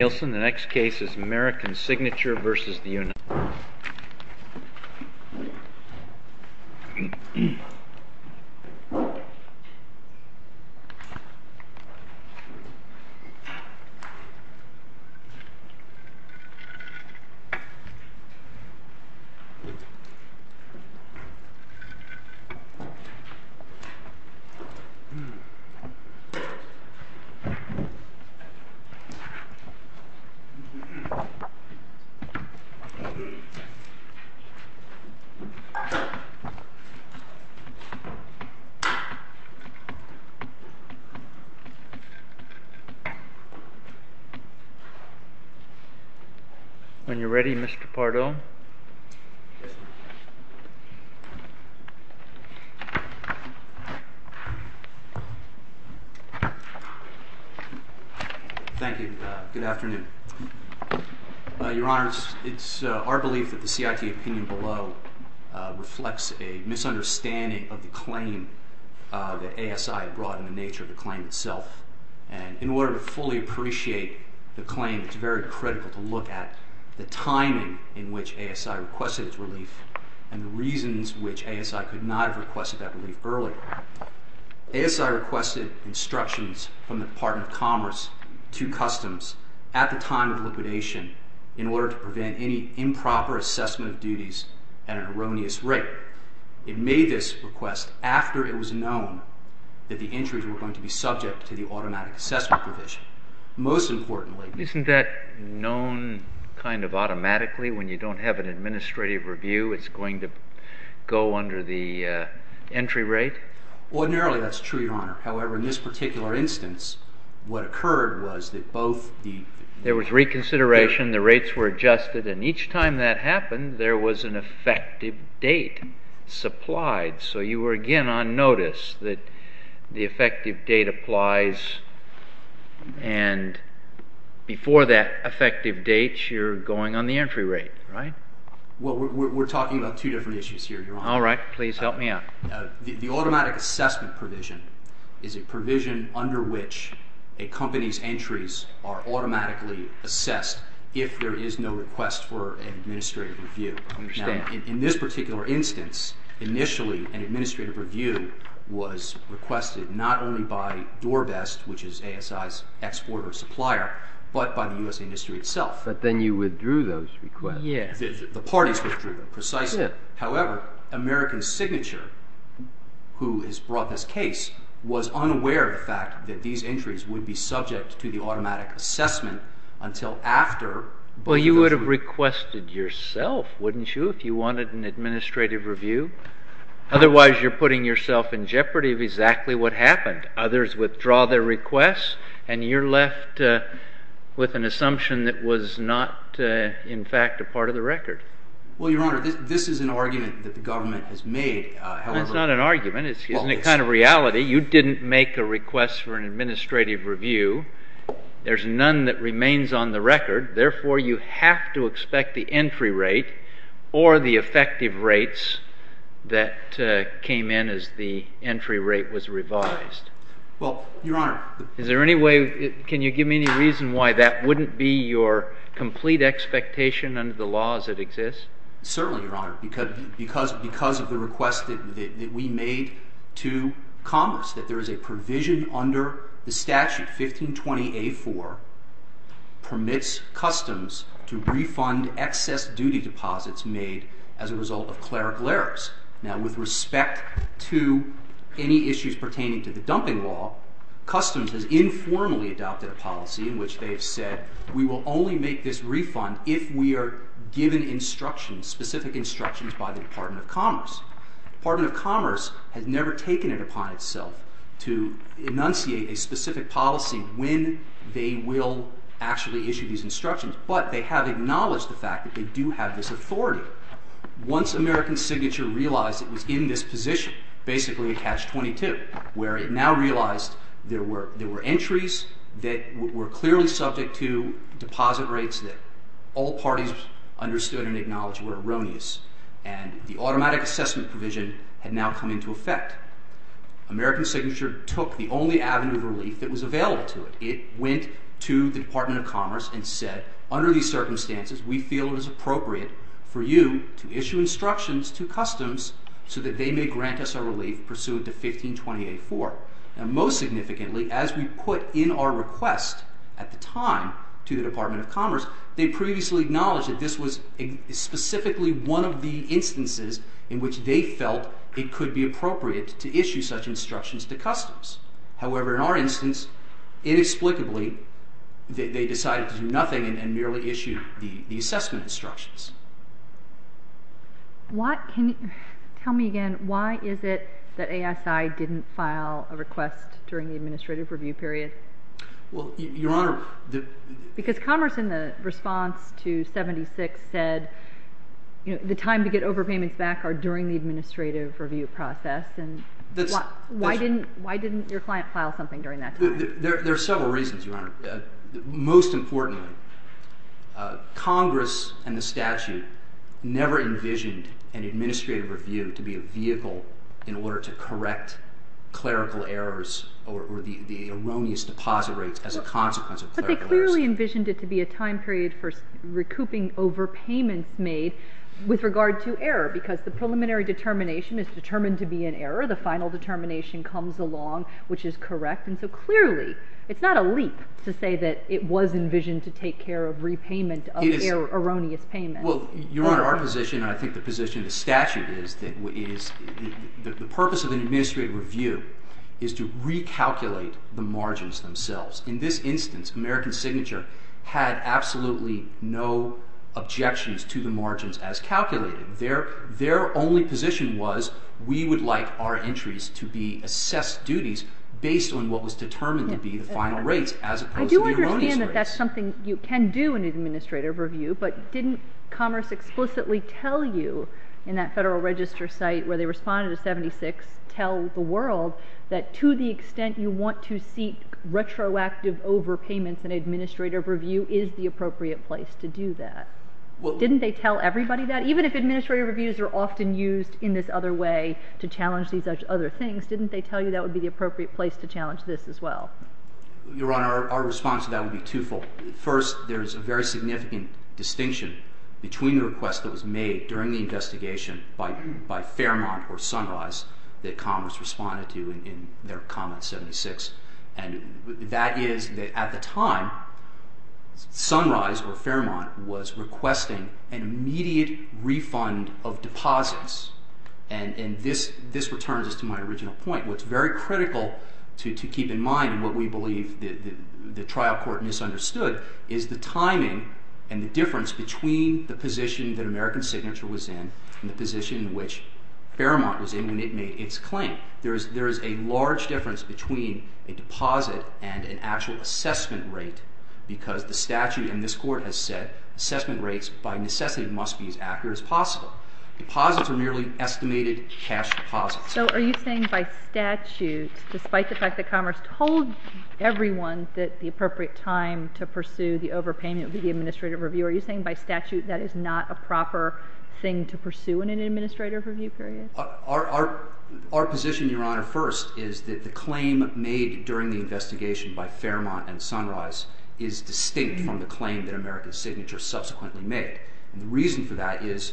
Nielsen, the next case is American Signature v. United States When you're ready, Mr. Pardoe. Thank you. Good afternoon. Your Honors, it's our belief that the CIT opinion below reflects a misunderstanding of the claim that ASI brought and the nature of the claim itself. And in order to fully appreciate the claim, it's very critical to look at the timing in which ASI requested its relief and the reasons which ASI could not have requested that relief earlier. ASI requested instructions from the Department of Commerce to Customs at the time of liquidation in order to prevent any improper assessment of duties at an erroneous rate. It made this request after it was known that the entries were going to be subject to the automatic assessment provision. Most importantly- Isn't that known kind of automatically when you don't have an administrative review? It's going to go under the entry rate? Ordinarily, that's true, Your Honor. However, in this particular instance, what occurred was that both the- There was reconsideration. The rates were adjusted. And each time that happened, there was an effective date supplied. So you were again on notice that the effective date applies and before that effective date, you're going on the entry rate, right? Well, we're talking about two different issues here, Your Honor. All right. Please help me out. The automatic assessment provision is a provision under which a company's entries are automatically assessed if there is no request for an administrative review. I understand. In this particular instance, initially, an administrative review was requested not only by Dorbest, which is ASI's exporter supplier, but by the U.S. industry itself. But then you withdrew those requests. Yes. The parties withdrew them, precisely. However, American Signature, who has brought this case, was unaware of the fact that these entries would be subject to the automatic assessment until after- Well, you would have requested yourself, wouldn't you, if you wanted an administrative review? Otherwise, you're putting yourself in jeopardy of exactly what happened. Others withdraw their requests, and you're left with an assumption that was not, in fact, a part of the record. Well, Your Honor, this is an argument that the government has made, however- Well, it's not an argument. It's the kind of reality. You didn't make a request for an administrative review. There's none that remains on the record. Therefore, you have to expect the entry rate or the effective rates that came in as the entry rate was revised. Well, Your Honor- Is there any way- Can you give me any reason why that wouldn't be your complete expectation under the laws that exist? Certainly, Your Honor, because of the request that we made to Congress, that there is a duty deposits made as a result of clerical errors. Now, with respect to any issues pertaining to the dumping law, Customs has informally adopted a policy in which they have said, we will only make this refund if we are given instructions, specific instructions by the Department of Commerce. The Department of Commerce has never taken it upon itself to enunciate a specific policy when they will actually issue these instructions, but they have acknowledged the fact that they do have this authority. Once American Signature realized it was in this position, basically at catch-22, where it now realized there were entries that were clearly subject to deposit rates that all parties understood and acknowledged were erroneous, and the automatic assessment provision had now come into effect, American Signature took the only avenue of relief that was available to it. It went to the Department of Commerce and said, under these circumstances, we feel it is appropriate for you to issue instructions to Customs so that they may grant us our relief pursuant to 1528-4. Now, most significantly, as we put in our request at the time to the Department of Commerce, they previously acknowledged that this was specifically one of the instances in which they felt it could be appropriate to issue such instructions to Customs. However, in our instance, inexplicably, they decided to do nothing and merely issued the assessment instructions. Why, can you tell me again, why is it that ASI didn't file a request during the administrative review period? Well, Your Honor, the... Because Commerce, in the response to 76, said, you know, the time to get overpayments back are during the administrative review process, and why didn't your client file something during that time? There are several reasons, Your Honor. Most importantly, Congress and the statute never envisioned an administrative review to be a vehicle in order to correct clerical errors or the erroneous deposit rates as a consequence of clerical errors. But they clearly envisioned it to be a time period for recouping overpayments made with regard to error, because the preliminary determination is determined to be an error. The final determination comes along, which is correct. And so clearly, it's not a leap to say that it was envisioned to take care of repayment of erroneous payment. Well, Your Honor, our position, and I think the position of the statute is that the purpose of an administrative review is to recalculate the margins themselves. In this instance, American Signature had absolutely no objections to the margins as calculated. Their only position was we would like our entries to be assessed duties based on what was determined to be the final rates as opposed to the erroneous rates. I do understand that that's something you can do in an administrative review, but didn't Commerce explicitly tell you in that Federal Register site where they responded to 76 tell the world that to the extent you want to seek retroactive overpayments, an administrative review is the appropriate place to do that? Well, Didn't they tell everybody that? Even if administrative reviews are often used in this other way to challenge these other things, didn't they tell you that would be the appropriate place to challenge this as well? Your Honor, our response to that would be twofold. First, there is a very significant distinction between the request that was made during the investigation by Fairmont or Sunrise that Commerce responded to in their comment 76. And that is, at the time, Sunrise or Fairmont was requesting an immediate refund of deposits. And this returns to my original point. What's very critical to keep in mind and what we believe the trial court misunderstood is the timing and the difference between the position that American Signature was in and the position which Fairmont was in when it made its claim. There is a large difference between a deposit and an actual assessment rate because the statute in this court has said assessment rates by necessity must be as accurate as possible. Deposits are merely estimated cash deposits. So are you saying by statute, despite the fact that Commerce told everyone that the appropriate time to pursue the overpayment would be the administrative review, are you saying by statute that is not a proper thing to pursue in an administrative review period? Our position, Your Honor, first is that the claim made during the investigation by Fairmont and Sunrise is distinct from the claim that American Signature subsequently made. The reason for that is,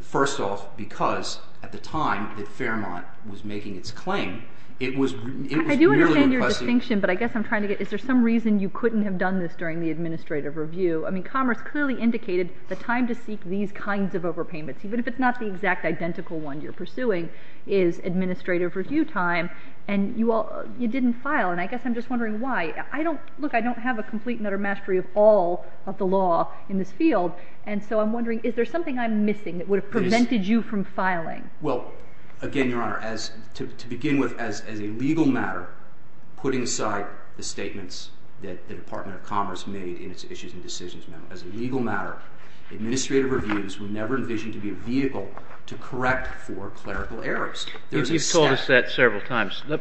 first off, because at the time that Fairmont was making its claim, it was merely requesting— I do understand your distinction, but I guess I'm trying to get—is there some reason you couldn't have done this during the administrative review? I mean, Commerce clearly indicated the time to seek these kinds of overpayments, even if it's not the exact identical one you're pursuing, is administrative review time, and you didn't file. And I guess I'm just wondering why. Look, I don't have a complete and utter mastery of all of the law in this field, and so I'm wondering, is there something I'm missing that would have prevented you from filing? Well, again, Your Honor, to begin with, as a legal matter, putting aside the statements that the Department of Commerce made in its issues and decisions memo, as a legal matter, administrative reviews were never envisioned to be a vehicle to correct for clerical errors. You've told us that several times. Let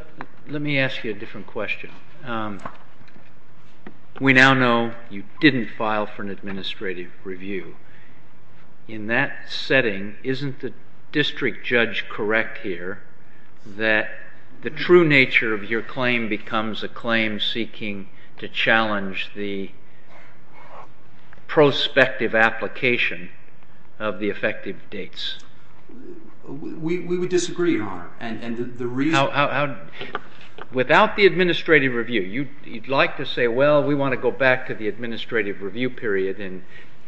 me ask you a different question. We now know you didn't file for an administrative review. In that setting, isn't the district judge correct here that the true nature of your claim becomes a claim seeking to challenge the prospective application of the effective dates? We would disagree, Your Honor. Without the administrative review, you'd like to say, well, we want to go back to the administrative review period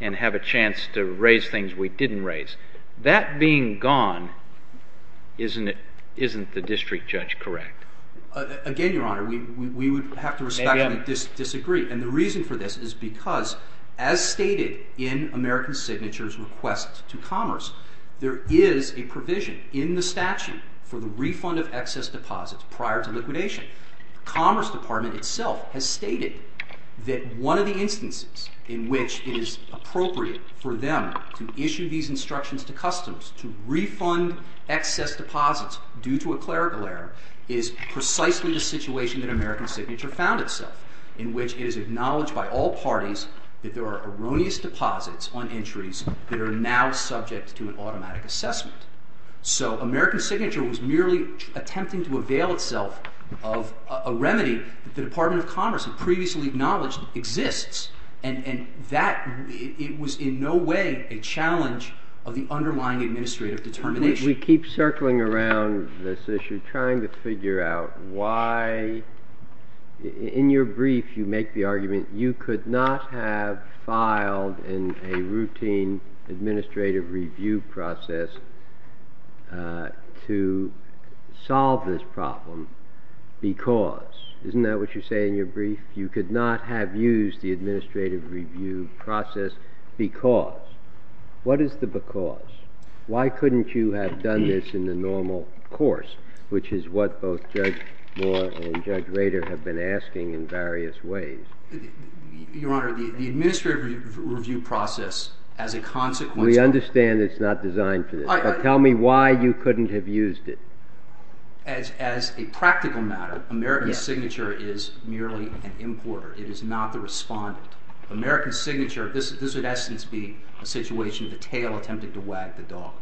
and have a chance to raise things we didn't raise. That being gone, isn't the district judge correct? Again, Your Honor, we would have to respectfully disagree. And the reason for this is because, as stated in American Signature's request to Commerce, there is a provision in the statute for the refund of excess deposits prior to liquidation. The Commerce Department itself has stated that one of the instances in which it is appropriate for them to issue these deposits is precisely the situation that American Signature found itself, in which it is acknowledged by all parties that there are erroneous deposits on entries that are now subject to an automatic assessment. So American Signature was merely attempting to avail itself of a remedy that the Department of Commerce had previously acknowledged exists. And that was in no way a challenge of the underlying administrative determination. We keep circling around this issue, trying to figure out why, in your brief, you make the argument you could not have filed in a routine administrative review process to solve this problem because. Isn't that what you say in your brief? You could not have used the administrative review process because. What is the because? Why couldn't you have done this in the normal course, which is what both Judge Moore and Judge Rader have been asking in various ways. Your Honor, the administrative review process, as a consequence of. We understand it's not designed for this, but tell me why you couldn't have used it. As a practical matter, American Signature is merely an importer. It is not the respondent. American Signature, this would in essence be a situation of the tail attempting to wag the dog.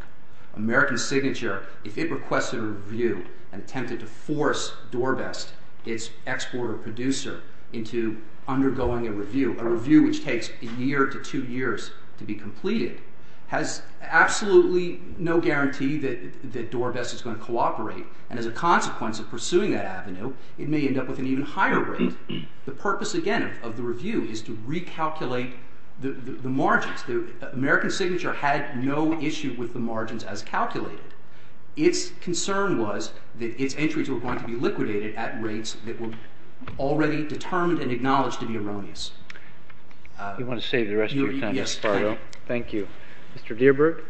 American Signature, if it requested a review and attempted to force Dorbest, its exporter-producer, into undergoing a review, a review which takes a year to two years to be completed, has absolutely no guarantee that Dorbest is going to cooperate. And as a consequence of pursuing that avenue, it may end up with an even higher rate. The purpose, again, of the review is to recalculate the margins. American Signature had no issue with the margins as calculated. Its concern was that its entries were going to be liquidated at rates that were already determined and acknowledged to be erroneous. You want to save the rest of your time, Espardo. Thank you. Mr. Dierburg?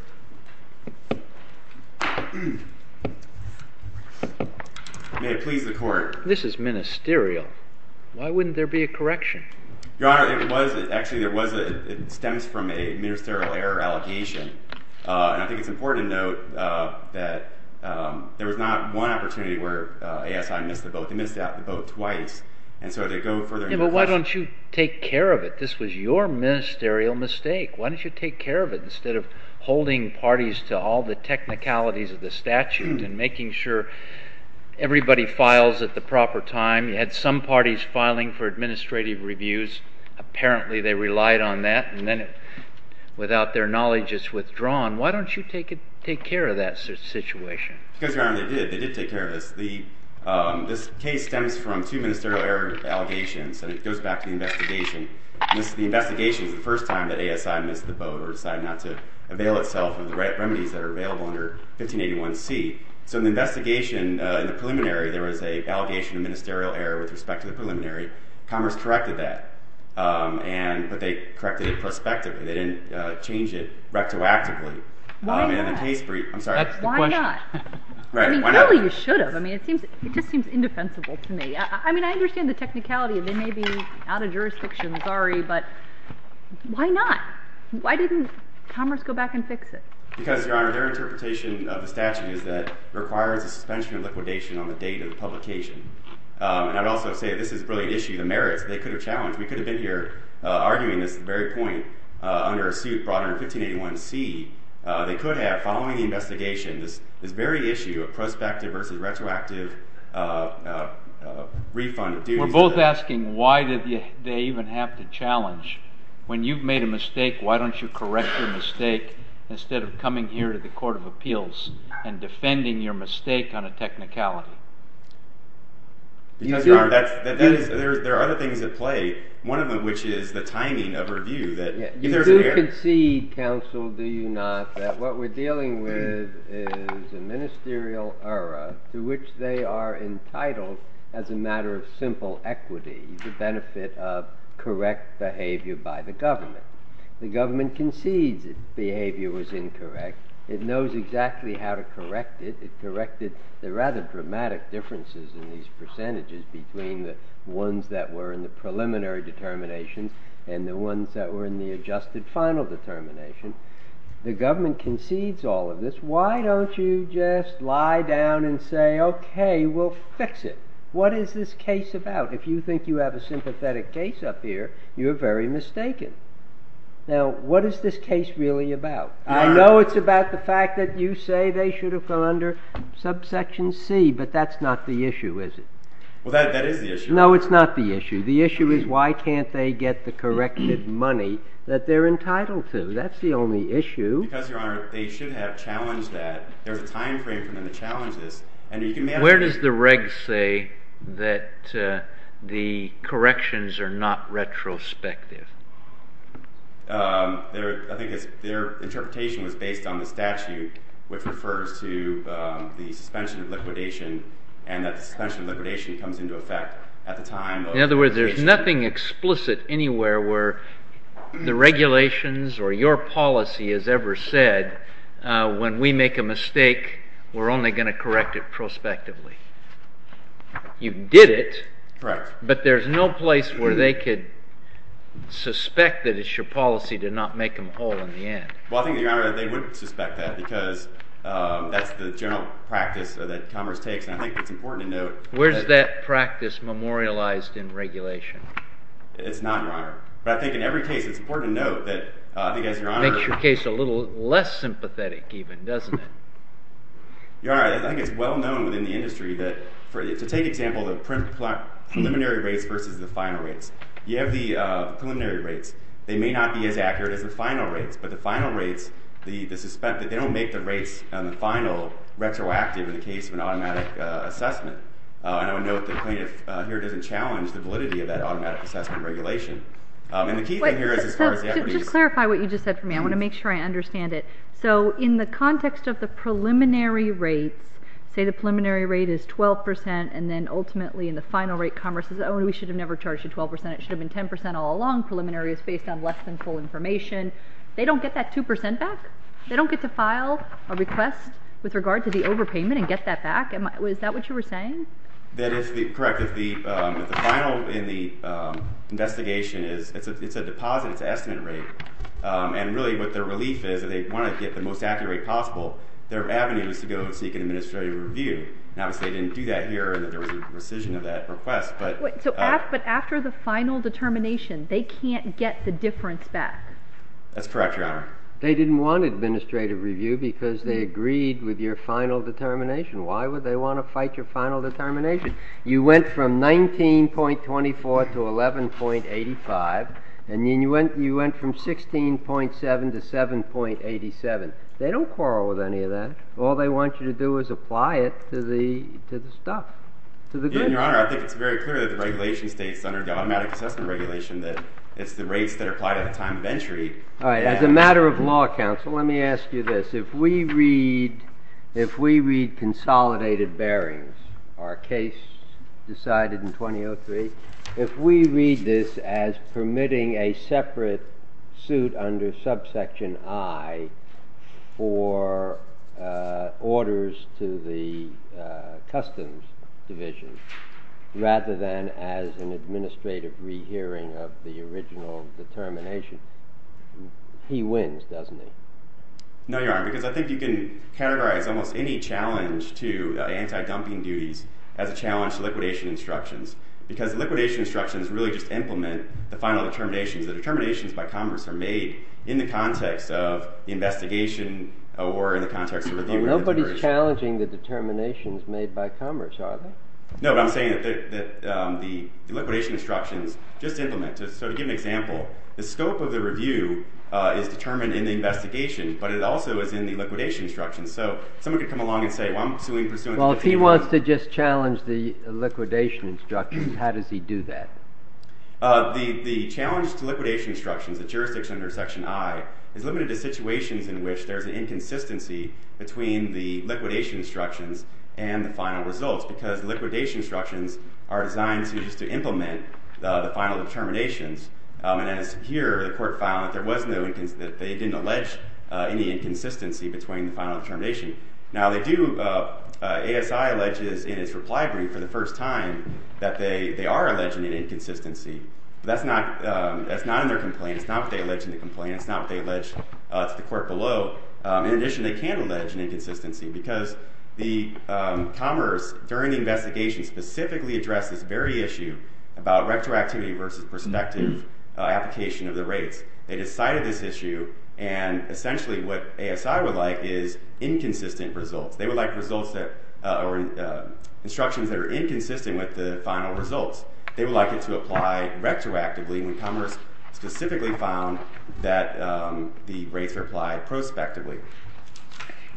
May it please the Court. This is ministerial. Why wouldn't there be a correction? Your Honor, it was. Actually, it stems from a ministerial error allegation. And I think it's important to note that there was not one opportunity where ASI missed the boat. They missed the boat twice. And so to go further into the question. Why don't you take care of it? This was your ministerial mistake. Why don't you take care of it? Instead of holding parties to all the technicalities of the statute and making sure everybody files at the proper time. You had some parties filing for administrative reviews. Apparently, they relied on that. And then without their knowledge, it's withdrawn. Why don't you take care of that situation? Because, Your Honor, they did. They did take care of this. This case stems from two ministerial error allegations. And it goes back to the investigation. The investigation is the first time that ASI missed the boat or decided not to avail itself of the remedies that are available under 1581C. So in the investigation, in the preliminary, there was an allegation of ministerial error with respect to the preliminary. Commerce corrected that. But they corrected it prospectively. They didn't change it rectoactively. Why not? I'm sorry. Why not? Right. Why not? Apparently, you should have. I mean, it just seems indefensible to me. I mean, I understand the technicality. They may be out of jurisdiction. Sorry. But why not? Why didn't Commerce go back and fix it? Because, Your Honor, their interpretation of the statute is that it requires a suspension of liquidation on the date of publication. And I would also say this is a brilliant issue. The merits they could have challenged. We could have been here arguing this at the very point under a suit brought under 1581C. They could have, following the investigation, this very issue of prospective versus retroactive refund. We're both asking, why did they even have to challenge? When you've made a mistake, why don't you correct your mistake instead of coming here to the Court of Appeals and defending your mistake on a technicality? Because, Your Honor, there are other things at play, one of which is the timing of review. You do concede, counsel, do you not, that what we're dealing with is a ministerial error to which they are entitled as a matter of simple equity, the benefit of correct behavior by the government. The government concedes its behavior was incorrect. It knows exactly how to correct it. It corrected the rather dramatic differences in these percentages between the ones that were in the preliminary determinations and the ones that were in the adjusted final determination. The government concedes all of this. Why don't you just lie down and say, okay, we'll fix it? What is this case about? If you think you have a sympathetic case up here, you're very mistaken. Now, what is this case really about? I know it's about the fact that you say they should have gone under subsection C, but that's not the issue, is it? Well, that is the issue. No, it's not the issue. The issue is why can't they get the corrected money that they're entitled to? That's the only issue. Because, Your Honor, they should have challenged that. There's a time frame for them to challenge this. Where does the reg say that the corrections are not retrospective? I think their interpretation was based on the statute, which refers to the suspension of liquidation, and that the suspension of liquidation comes into effect at the time of- In other words, there's nothing explicit anywhere where the regulations or your policy has ever said, when we make a mistake, we're only going to correct it prospectively. You did it. Correct. But there's no place where they could suspect that it's your policy to not make them whole in the end. Well, I think, Your Honor, they would suspect that, because that's the general practice that Commerce takes. And I think it's important to note- Where's that practice memorialized in regulation? It's not, Your Honor. But I think in every case, it's important to note that, I think, as Your Honor- Makes your case a little less sympathetic, even, doesn't it? Your Honor, I think it's well known within the industry that, to take example, the preliminary rates versus the final rates. You have the preliminary rates. They may not be as accurate as the final rates. But the final rates, they don't make the rates on the final retroactive in the case of an automatic assessment. And I would note that plaintiff here doesn't challenge the validity of that automatic assessment regulation. And the key thing here is, as far as the effort is- Just clarify what you just said for me. I want to make sure I understand it. So, in the context of the preliminary rates, say the preliminary rate is 12%, and then, ultimately, in the final rate, Commerce says, oh, we should have never charged you 12%. It should have been 10% all along. Preliminary is based on less than full information. They don't get that 2% back? They don't get to file a request with regard to the overpayment and get that back? Is that what you were saying? That is correct. If the final, in the investigation, it's a deposit, it's an estimate rate. And really, what their relief is, that they want to get the most accurate rate possible, their avenue is to go seek an administrative review. And obviously, they didn't do that here, and that there was a rescission of that request. But after the final determination, they can't get the difference back? That's correct, Your Honor. They didn't want an administrative review because they agreed with your final determination. Why would they want to fight your final determination? You went from 19.24 to 11.85, and then you went from 16.7 to 7.87. They don't quarrel with any of that. All they want you to do is apply it to the stuff, to the goods. Your Honor, I think it's very clear that the regulation states, under the automatic assessment regulation, that it's the rates that are applied at the time of entry. All right. As a matter of law, counsel, let me ask you this. If we read consolidated bearings, our case decided in 2003, if we read this as permitting a separate suit under subsection I for orders to the Customs Division, rather than as an administrative rehearing of the original determination, he wins, doesn't he? No, Your Honor, because I think you can categorize almost any challenge to anti-dumping duties as a challenge to liquidation instructions, because liquidation instructions really just apply in the context of investigation or in the context of review. Nobody's challenging the determinations made by Commerce, are they? No, but I'm saying that the liquidation instructions just implement. So to give an example, the scope of the review is determined in the investigation, but it also is in the liquidation instructions. So someone could come along and say, well, I'm suing pursuant to the fee. Well, if he wants to just challenge the liquidation instructions, how does he do that? The challenge to liquidation instructions, the jurisdiction under section I, is limited to situations in which there's an inconsistency between the liquidation instructions and the final results, because liquidation instructions are designed just to implement the final determinations. And as here, the court found that they didn't allege any inconsistency between the final determination. Now they do, ASI alleges in its reply brief for the first time that they are alleging an inconsistency, but that's not in their complaint. It's not what they allege in the complaint. It's not what they allege to the court below. In addition, they can allege an inconsistency, because Commerce, during the investigation, specifically addressed this very issue about retroactivity versus perspective application of the rates. They decided this issue, and essentially what ASI would like is inconsistent results. They would like results that, or instructions that are inconsistent with the final results. They would like it to apply retroactively when Commerce specifically found that the rates are applied prospectively.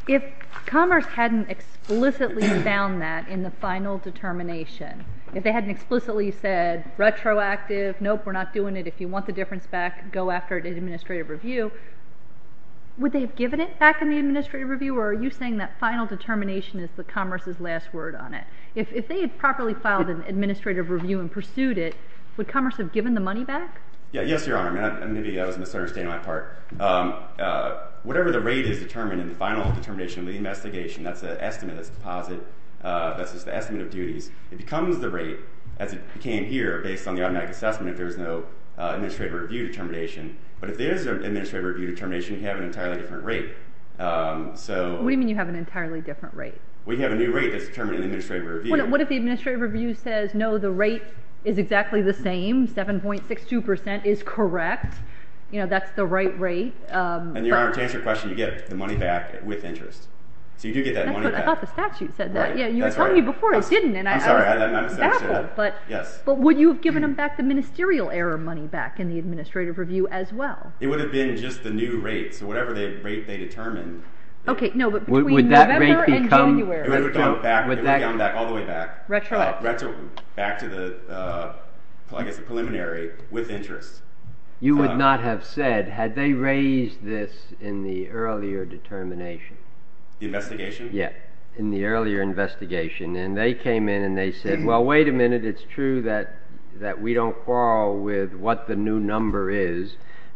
If Commerce hadn't explicitly found that in the final determination, if they hadn't explicitly said, retroactive, nope, we're not doing it, if you want the difference back, go after it in administrative review, would they have given it back in the administrative review, or are you saying that final determination is Commerce's last word on it? If they had properly filed an administrative review and pursued it, would Commerce have given the money back? Yes, Your Honor. Maybe I was misunderstanding my part. Whatever the rate is determined in the final determination of the investigation, that's the estimate, that's the deposit, that's just the estimate of duties, it becomes the rate as it became here based on the automatic assessment if there was no administrative review determination, but if there is an administrative review determination, you have an entirely different rate, so... What do you mean you have an entirely different rate? Well, you have a new rate that's determined in administrative review. What if the administrative review says, no, the rate is exactly the same, 7.62% is correct, you know, that's the right rate. And Your Honor, to answer your question, you get the money back with interest. So you do get that money back. I thought the statute said that. Right, that's right. You were telling me before it didn't, and I was baffled. I'm sorry, I misunderstood. Yes. But would you have given them back the ministerial error money back in the administrative review as well? It would have been just the new rate, so whatever rate they determined... Okay, no, but between November and January. Would that rate become... It would have gone back, it would have gone back, all the way back. Retroactively. Back to the, I guess the preliminary, with interest. You would not have said, had they raised this in the earlier determination? The investigation? Yes, in the earlier investigation, and they came in and they said, well, wait a minute, it's true that we don't quarrel with what the new number is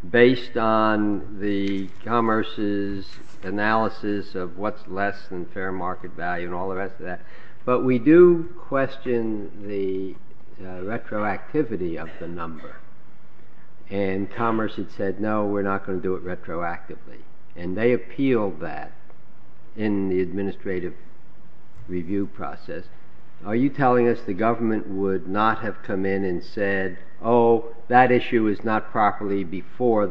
based on the Commerce's analysis of what's less than fair market value and all the rest of that, but we do question the retroactivity of the number. And Commerce had said, no, we're not going to do it retroactively. And they appealed that in the administrative review process. Are you telling us the government would not have come in and said, oh, that issue is not properly before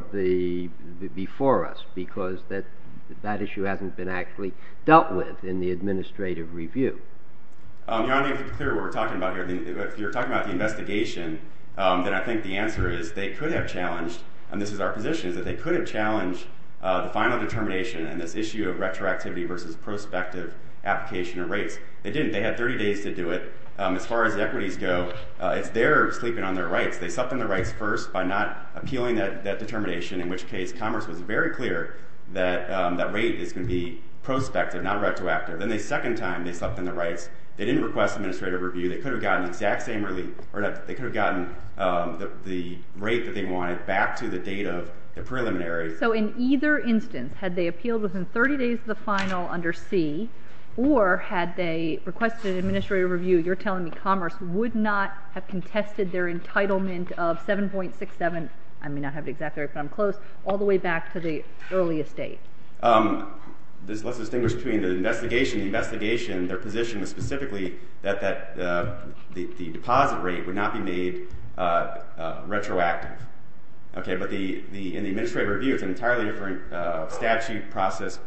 us because that issue hasn't been actually dealt with in the administrative review? Your Honor, to be clear, what we're talking about here, if you're talking about the investigation, then I think the answer is they could have challenged, and this is our position, is that they could have challenged the final determination and this issue of retroactivity versus prospective application of rates. They didn't. They had 30 days to do it. As far as equities go, it's their sleeping on their rights. They slept on their rights first by not appealing that determination, in which case Commerce was very clear that that rate is going to be prospective, not retroactive. Then the second time they slept on their rights, they didn't request administrative review. They could have gotten the rate that they wanted back to the date of the preliminary. So in either instance, had they appealed within 30 days of the final under C, or had they requested administrative review, you're telling me Commerce would not have contested their entitlement of 7.67, I may not have it exactly right, but I'm close, all the way back to the earliest date? Let's distinguish between the investigation and the investigation. Their position was specifically that the deposit rate would not be made retroactive. Okay, but in the administrative review, it's an entirely different statute, process,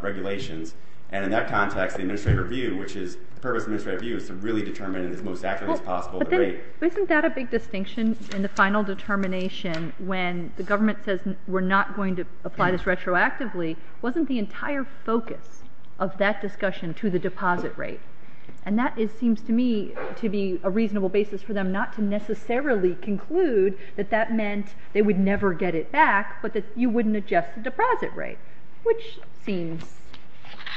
regulations. And in that context, the purpose of administrative review is to really determine as most accurately as possible the rate. Isn't that a big distinction in the final determination when the government says we're not going to apply this retroactively? Wasn't the entire focus of that discussion to the deposit rate? And that seems to me to be a reasonable basis for them not to necessarily conclude that that meant they would never get it back, but that you wouldn't adjust the deposit rate, which seems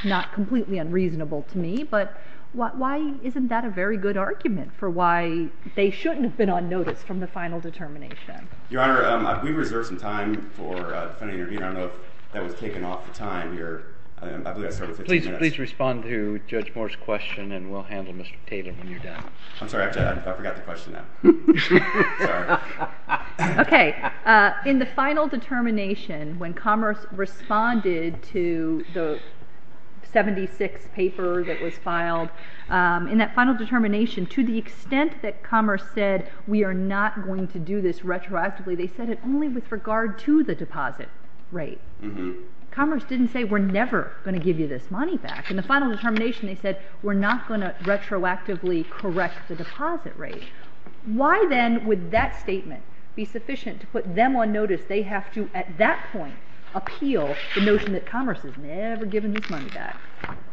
not completely unreasonable to me. But why isn't that a very good argument for why they shouldn't have been on notice from the final determination? Your Honor, we reserved some time for the defendant to intervene. I don't know if that was taken off the time here. I believe I started 15 minutes. Please respond to Judge Moore's question, and we'll handle Mr. Tatum when you're done. I'm sorry, I forgot the question now. Okay. In the final determination, when Commerce responded to the 76 paper that was filed, in that final determination, to the extent that Commerce said we are not going to do this retroactively, they said it only with regard to the deposit rate. Commerce didn't say we're never going to give you this money back. In the final determination, they said we're not going to retroactively correct the deposit rate. Why, then, would that statement be sufficient to put them on notice they have to, at that point, appeal the notion that Commerce has never given this money back?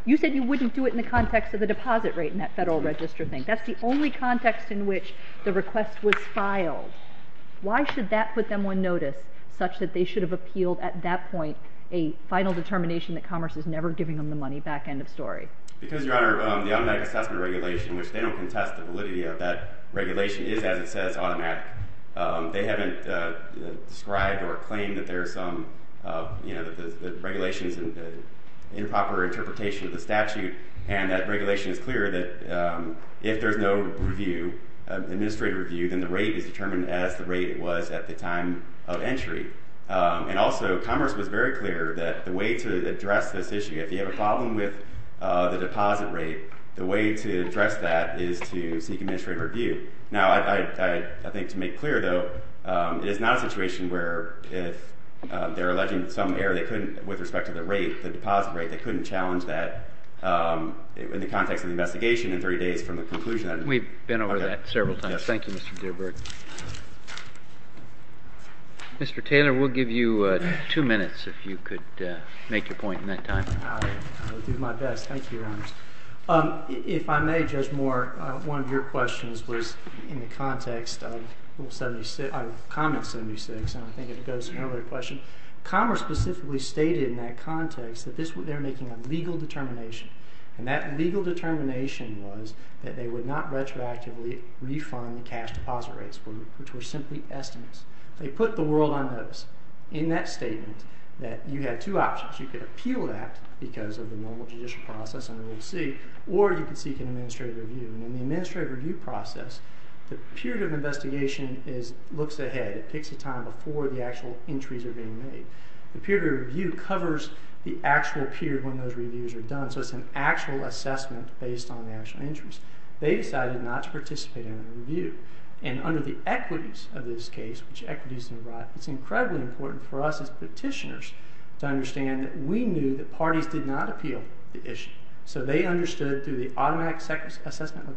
You said you wouldn't do it in the context of the deposit rate in that Federal Register thing. That's the only context in which the request was filed. Why should that put them on notice such that they should have appealed at that point a final determination that Commerce is never giving them the money back, end of story? Because, Your Honor, the automatic assessment regulation, which they don't contest the validity of that regulation, is, as it says, automatic. They haven't described or claimed that there are some regulations and improper interpretation of the statute. And that regulation is clear that if there's no review, administrative review, then the rate is determined as the rate was at the time of entry. And also, Commerce was very clear that the way to address this issue, if you have a problem with the deposit rate, the way to address that is to seek administrative review. Now, I think to make clear, though, it is not a situation where if they're alleging some error with respect to the rate, the deposit rate, they couldn't challenge that in the context of the investigation in 30 days from the conclusion. We've been over that several times. Thank you, Mr. Gilbert. Mr. Taylor, we'll give you two minutes if you could make your point in that time. I will do my best. Thank you, Your Honors. If I may, Judge Moore, one of your questions was in the context of Common 76, and I think it goes to an earlier question. Commerce specifically stated in that context that they're making a legal determination, and that legal determination was that they would not retroactively refund the cash deposit rates, which were simply estimates. They put the world on notice in that statement that you had two options. You could appeal that because of the normal judicial process under Rule C, or you could seek an administrative review. In the administrative review process, the period of investigation looks ahead. It picks a time before the actual entries are being made. The period of review covers the actual period when those reviews are done, so it's an actual assessment based on the actual entries. They decided not to participate in the review, and under the equities of this case, which equities and rights, it's incredibly important for us as petitioners to understand that we knew that parties did not appeal the issue, so they understood through the automatic assessment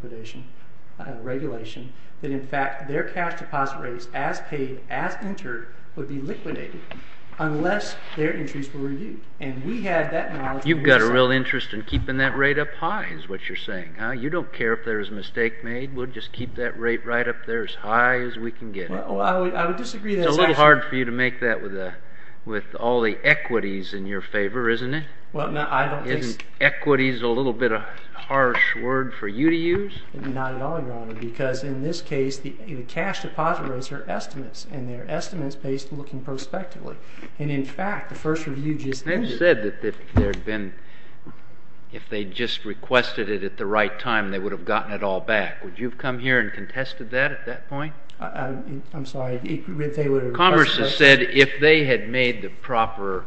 regulation that in fact their cash deposit rates as paid, as entered, would be liquidated unless their entries were reviewed, and we had that knowledge. You've got a real interest in keeping that rate up high is what you're saying. You don't care if there is a mistake made. We'll just keep that rate right up there as high as we can get it. It's a little hard for you to make that with all the equities in your favor, isn't it? Isn't equities a little bit of a harsh word for you to use? Not at all, Your Honor, because in this case the cash deposit rates are estimates, and they're estimates based looking prospectively, and in fact the first review just ended. They've said that if they'd just requested it at the right time, they would have gotten it all back. Would you have come here and contested that at that point? I'm sorry. Congress has said if they had made the proper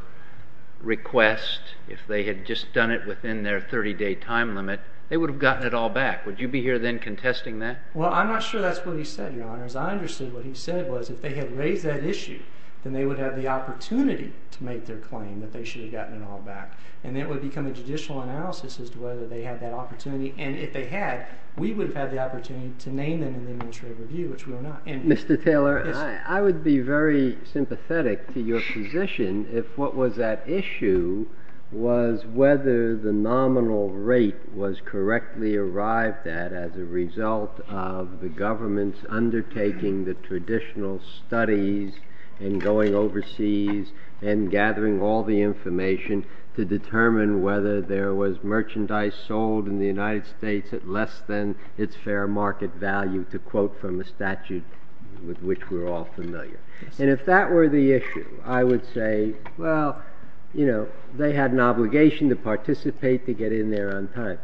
request, if they had just done it within their 30-day time limit, they would have gotten it all back. Would you be here then contesting that? Well, I'm not sure that's what he said, Your Honor, as I understood what he said was if they had raised that issue, then they would have the opportunity to make their claim that they should have gotten it all back, and it would become a judicial analysis as to whether they had that opportunity, and if they had, we would have had the opportunity to name them in the administrative review, which we are not. Mr. Taylor, I would be very sympathetic to your position if what was at issue was whether the nominal rate was correctly arrived at as a result of the government's undertaking the traditional studies and going overseas and gathering all the information to determine whether there was merchandise sold in the United States at less than its fair market value to quote from the statute with which we're all familiar. And if that were the issue, I would say, well, you know, they had an obligation to participate to get in there on time.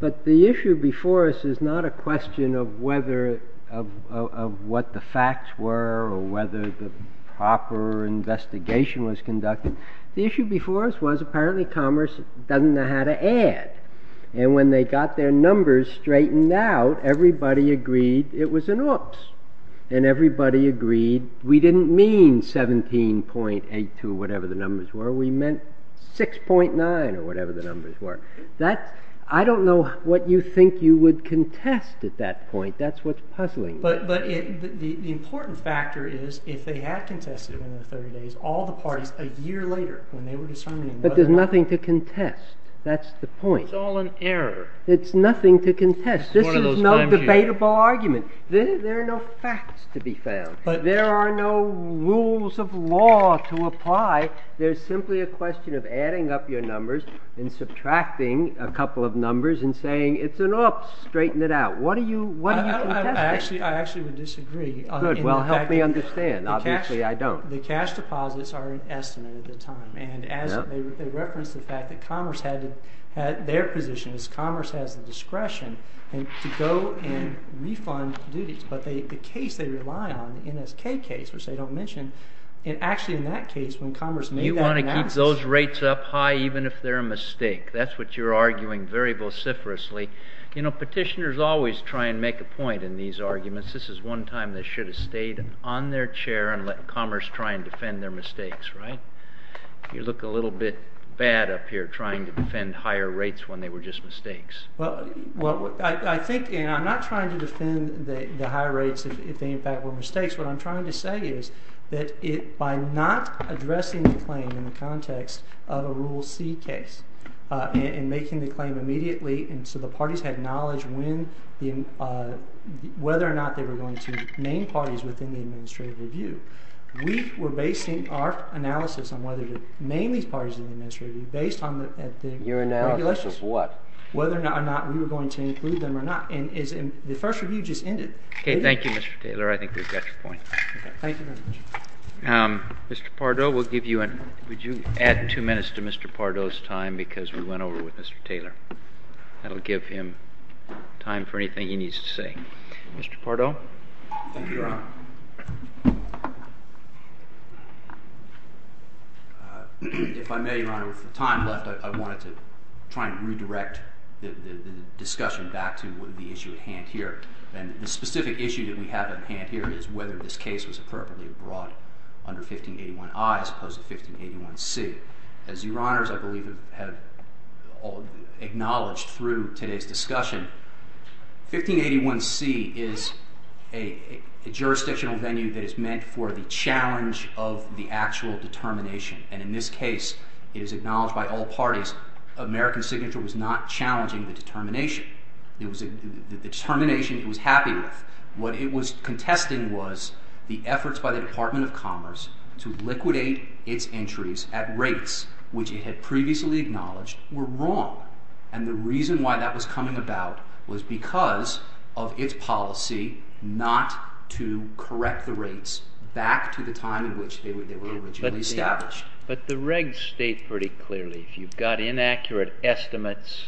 But the issue before us is not a question of what the facts were or whether the proper investigation was conducted. And when they got their numbers straightened out, everybody agreed it was an oops, and everybody agreed we didn't mean 17.82 or whatever the numbers were. We meant 6.9 or whatever the numbers were. I don't know what you think you would contest at that point. That's what's puzzling me. But the important factor is if they had contested within 30 days, all the parties a year later when they were discerning... But there's nothing to contest. That's the point. It's all an error. It's nothing to contest. This is no debatable argument. There are no facts to be found. There are no rules of law to apply. There's simply a question of adding up your numbers and subtracting a couple of numbers and saying it's an oops. Straighten it out. What are you contesting? I actually would disagree. Good. Well, help me understand. Obviously I don't. The cash deposits are an estimate at the time. And as they reference the fact that Commerce had their position is Commerce has the discretion to go and refund duties. But the case they rely on, the NSK case, which they don't mention, actually in that case when Commerce made that analysis... You want to keep those rates up high even if they're a mistake. That's what you're arguing very vociferously. Petitioners always try and make a point in these arguments. This is one time they should have stayed on their chair and let Commerce try and defend their mistakes. You look a little bit bad up here trying to defend higher rates when they were just mistakes. I'm not trying to defend the higher rates if they in fact were mistakes. What I'm trying to say is that by not addressing the claim in the context of a Rule C case and making the claim immediately so the parties had knowledge whether or not they were going to name parties within the administrative review, we were basing our analysis on whether to name these parties in the administrative review based on the regulations. Your analysis of what? Whether or not we were going to include them or not. And the first review just ended. Okay. Thank you, Mr. Taylor. I think we've got your point. Thank you very much. Mr. Pardo, would you add two minutes to Mr. Pardo's time because we went over with Mr. Taylor. That will give him time for anything he needs to say. Mr. Pardo? Thank you, Your Honor. If I may, Your Honor, with the time left, I wanted to try and redirect the discussion back to the issue at hand here. And the specific issue that we have at hand here is whether this case was appropriately brought under 1581I as opposed to 1581C. As Your Honors, I believe, have acknowledged through today's discussion, 1581C is a jurisdictional venue that is meant for the challenge of the actual determination. And in this case, it is acknowledged by all parties American Signature was not challenging the determination. It was the determination it was happy with. What it was contesting was the efforts by the Department of Commerce to liquidate its entries at rates which it had previously acknowledged were wrong. And the reason why that was coming about was because of its policy not to correct the rates back to the time in which they were originally established. But the regs state pretty clearly, if you've got inaccurate estimates,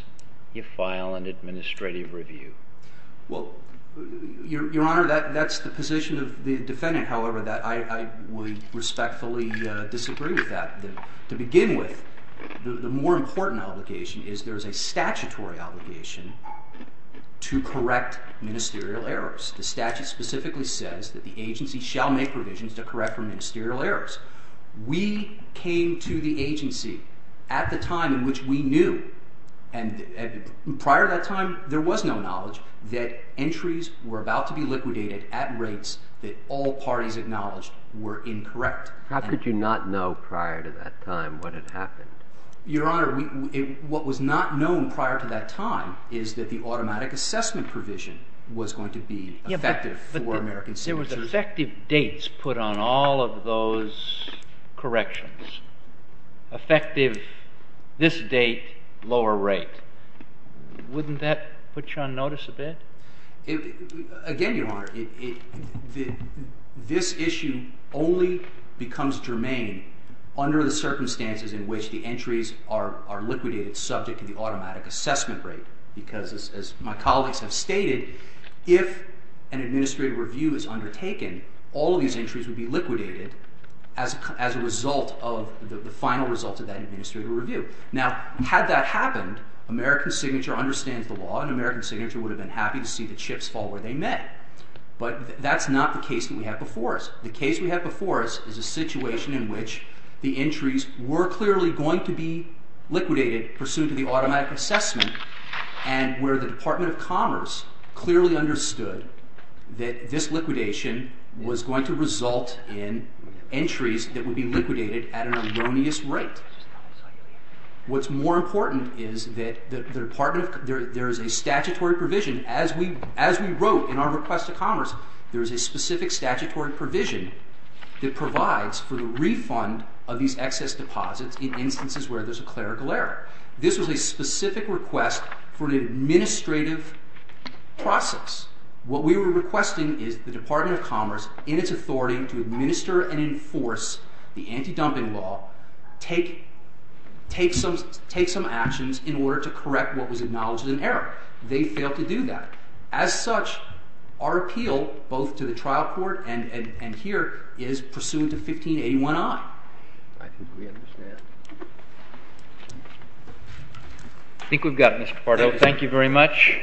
you file an administrative review. Well, Your Honor, that's the position of the defendant, however, that I would respectfully disagree with that. To begin with, the more important obligation is there is a statutory obligation to correct ministerial errors. The statute specifically says that the agency shall make revisions to correct for ministerial errors. We came to the agency at the time in which we knew, and prior to that time there was no knowledge, that entries were about to be liquidated at rates that all parties acknowledged were incorrect. How could you not know prior to that time what had happened? Your Honor, what was not known prior to that time is that the automatic assessment provision was going to be effective for American citizens. But there was effective dates put on all of those corrections. Effective this date, lower rate. Wouldn't that put you on notice a bit? Again, Your Honor, this issue only becomes germane under the circumstances in which the entries are liquidated subject to the automatic assessment rate. Because as my colleagues have stated, if an administrative review is undertaken, all of these entries would be liquidated as a result of the final result of that administrative review. Now, had that happened, American Signature understands the law and American Signature would have been happy to see the chips fall where they met. But that's not the case that we have before us. The case we have before us is a situation in which the entries were clearly going to be liquidated pursuant to the automatic assessment, and where the Department of Commerce clearly understood that this liquidation was going to result in entries that would be liquidated at an erroneous rate. What's more important is that there is a statutory provision. As we wrote in our request to Commerce, there is a specific statutory provision that provides for the refund of these excess deposits in instances where there's a clerical error. This was a specific request for an administrative process. What we were requesting is that the Department of Commerce, in its authority to administer and enforce the anti-dumping law, take some actions in order to correct what was acknowledged as an error. They failed to do that. As such, our appeal, both to the trial court and here, is pursuant to 1581I. I think we understand. I think we've got it, Mr. Pardo. Thank you very much.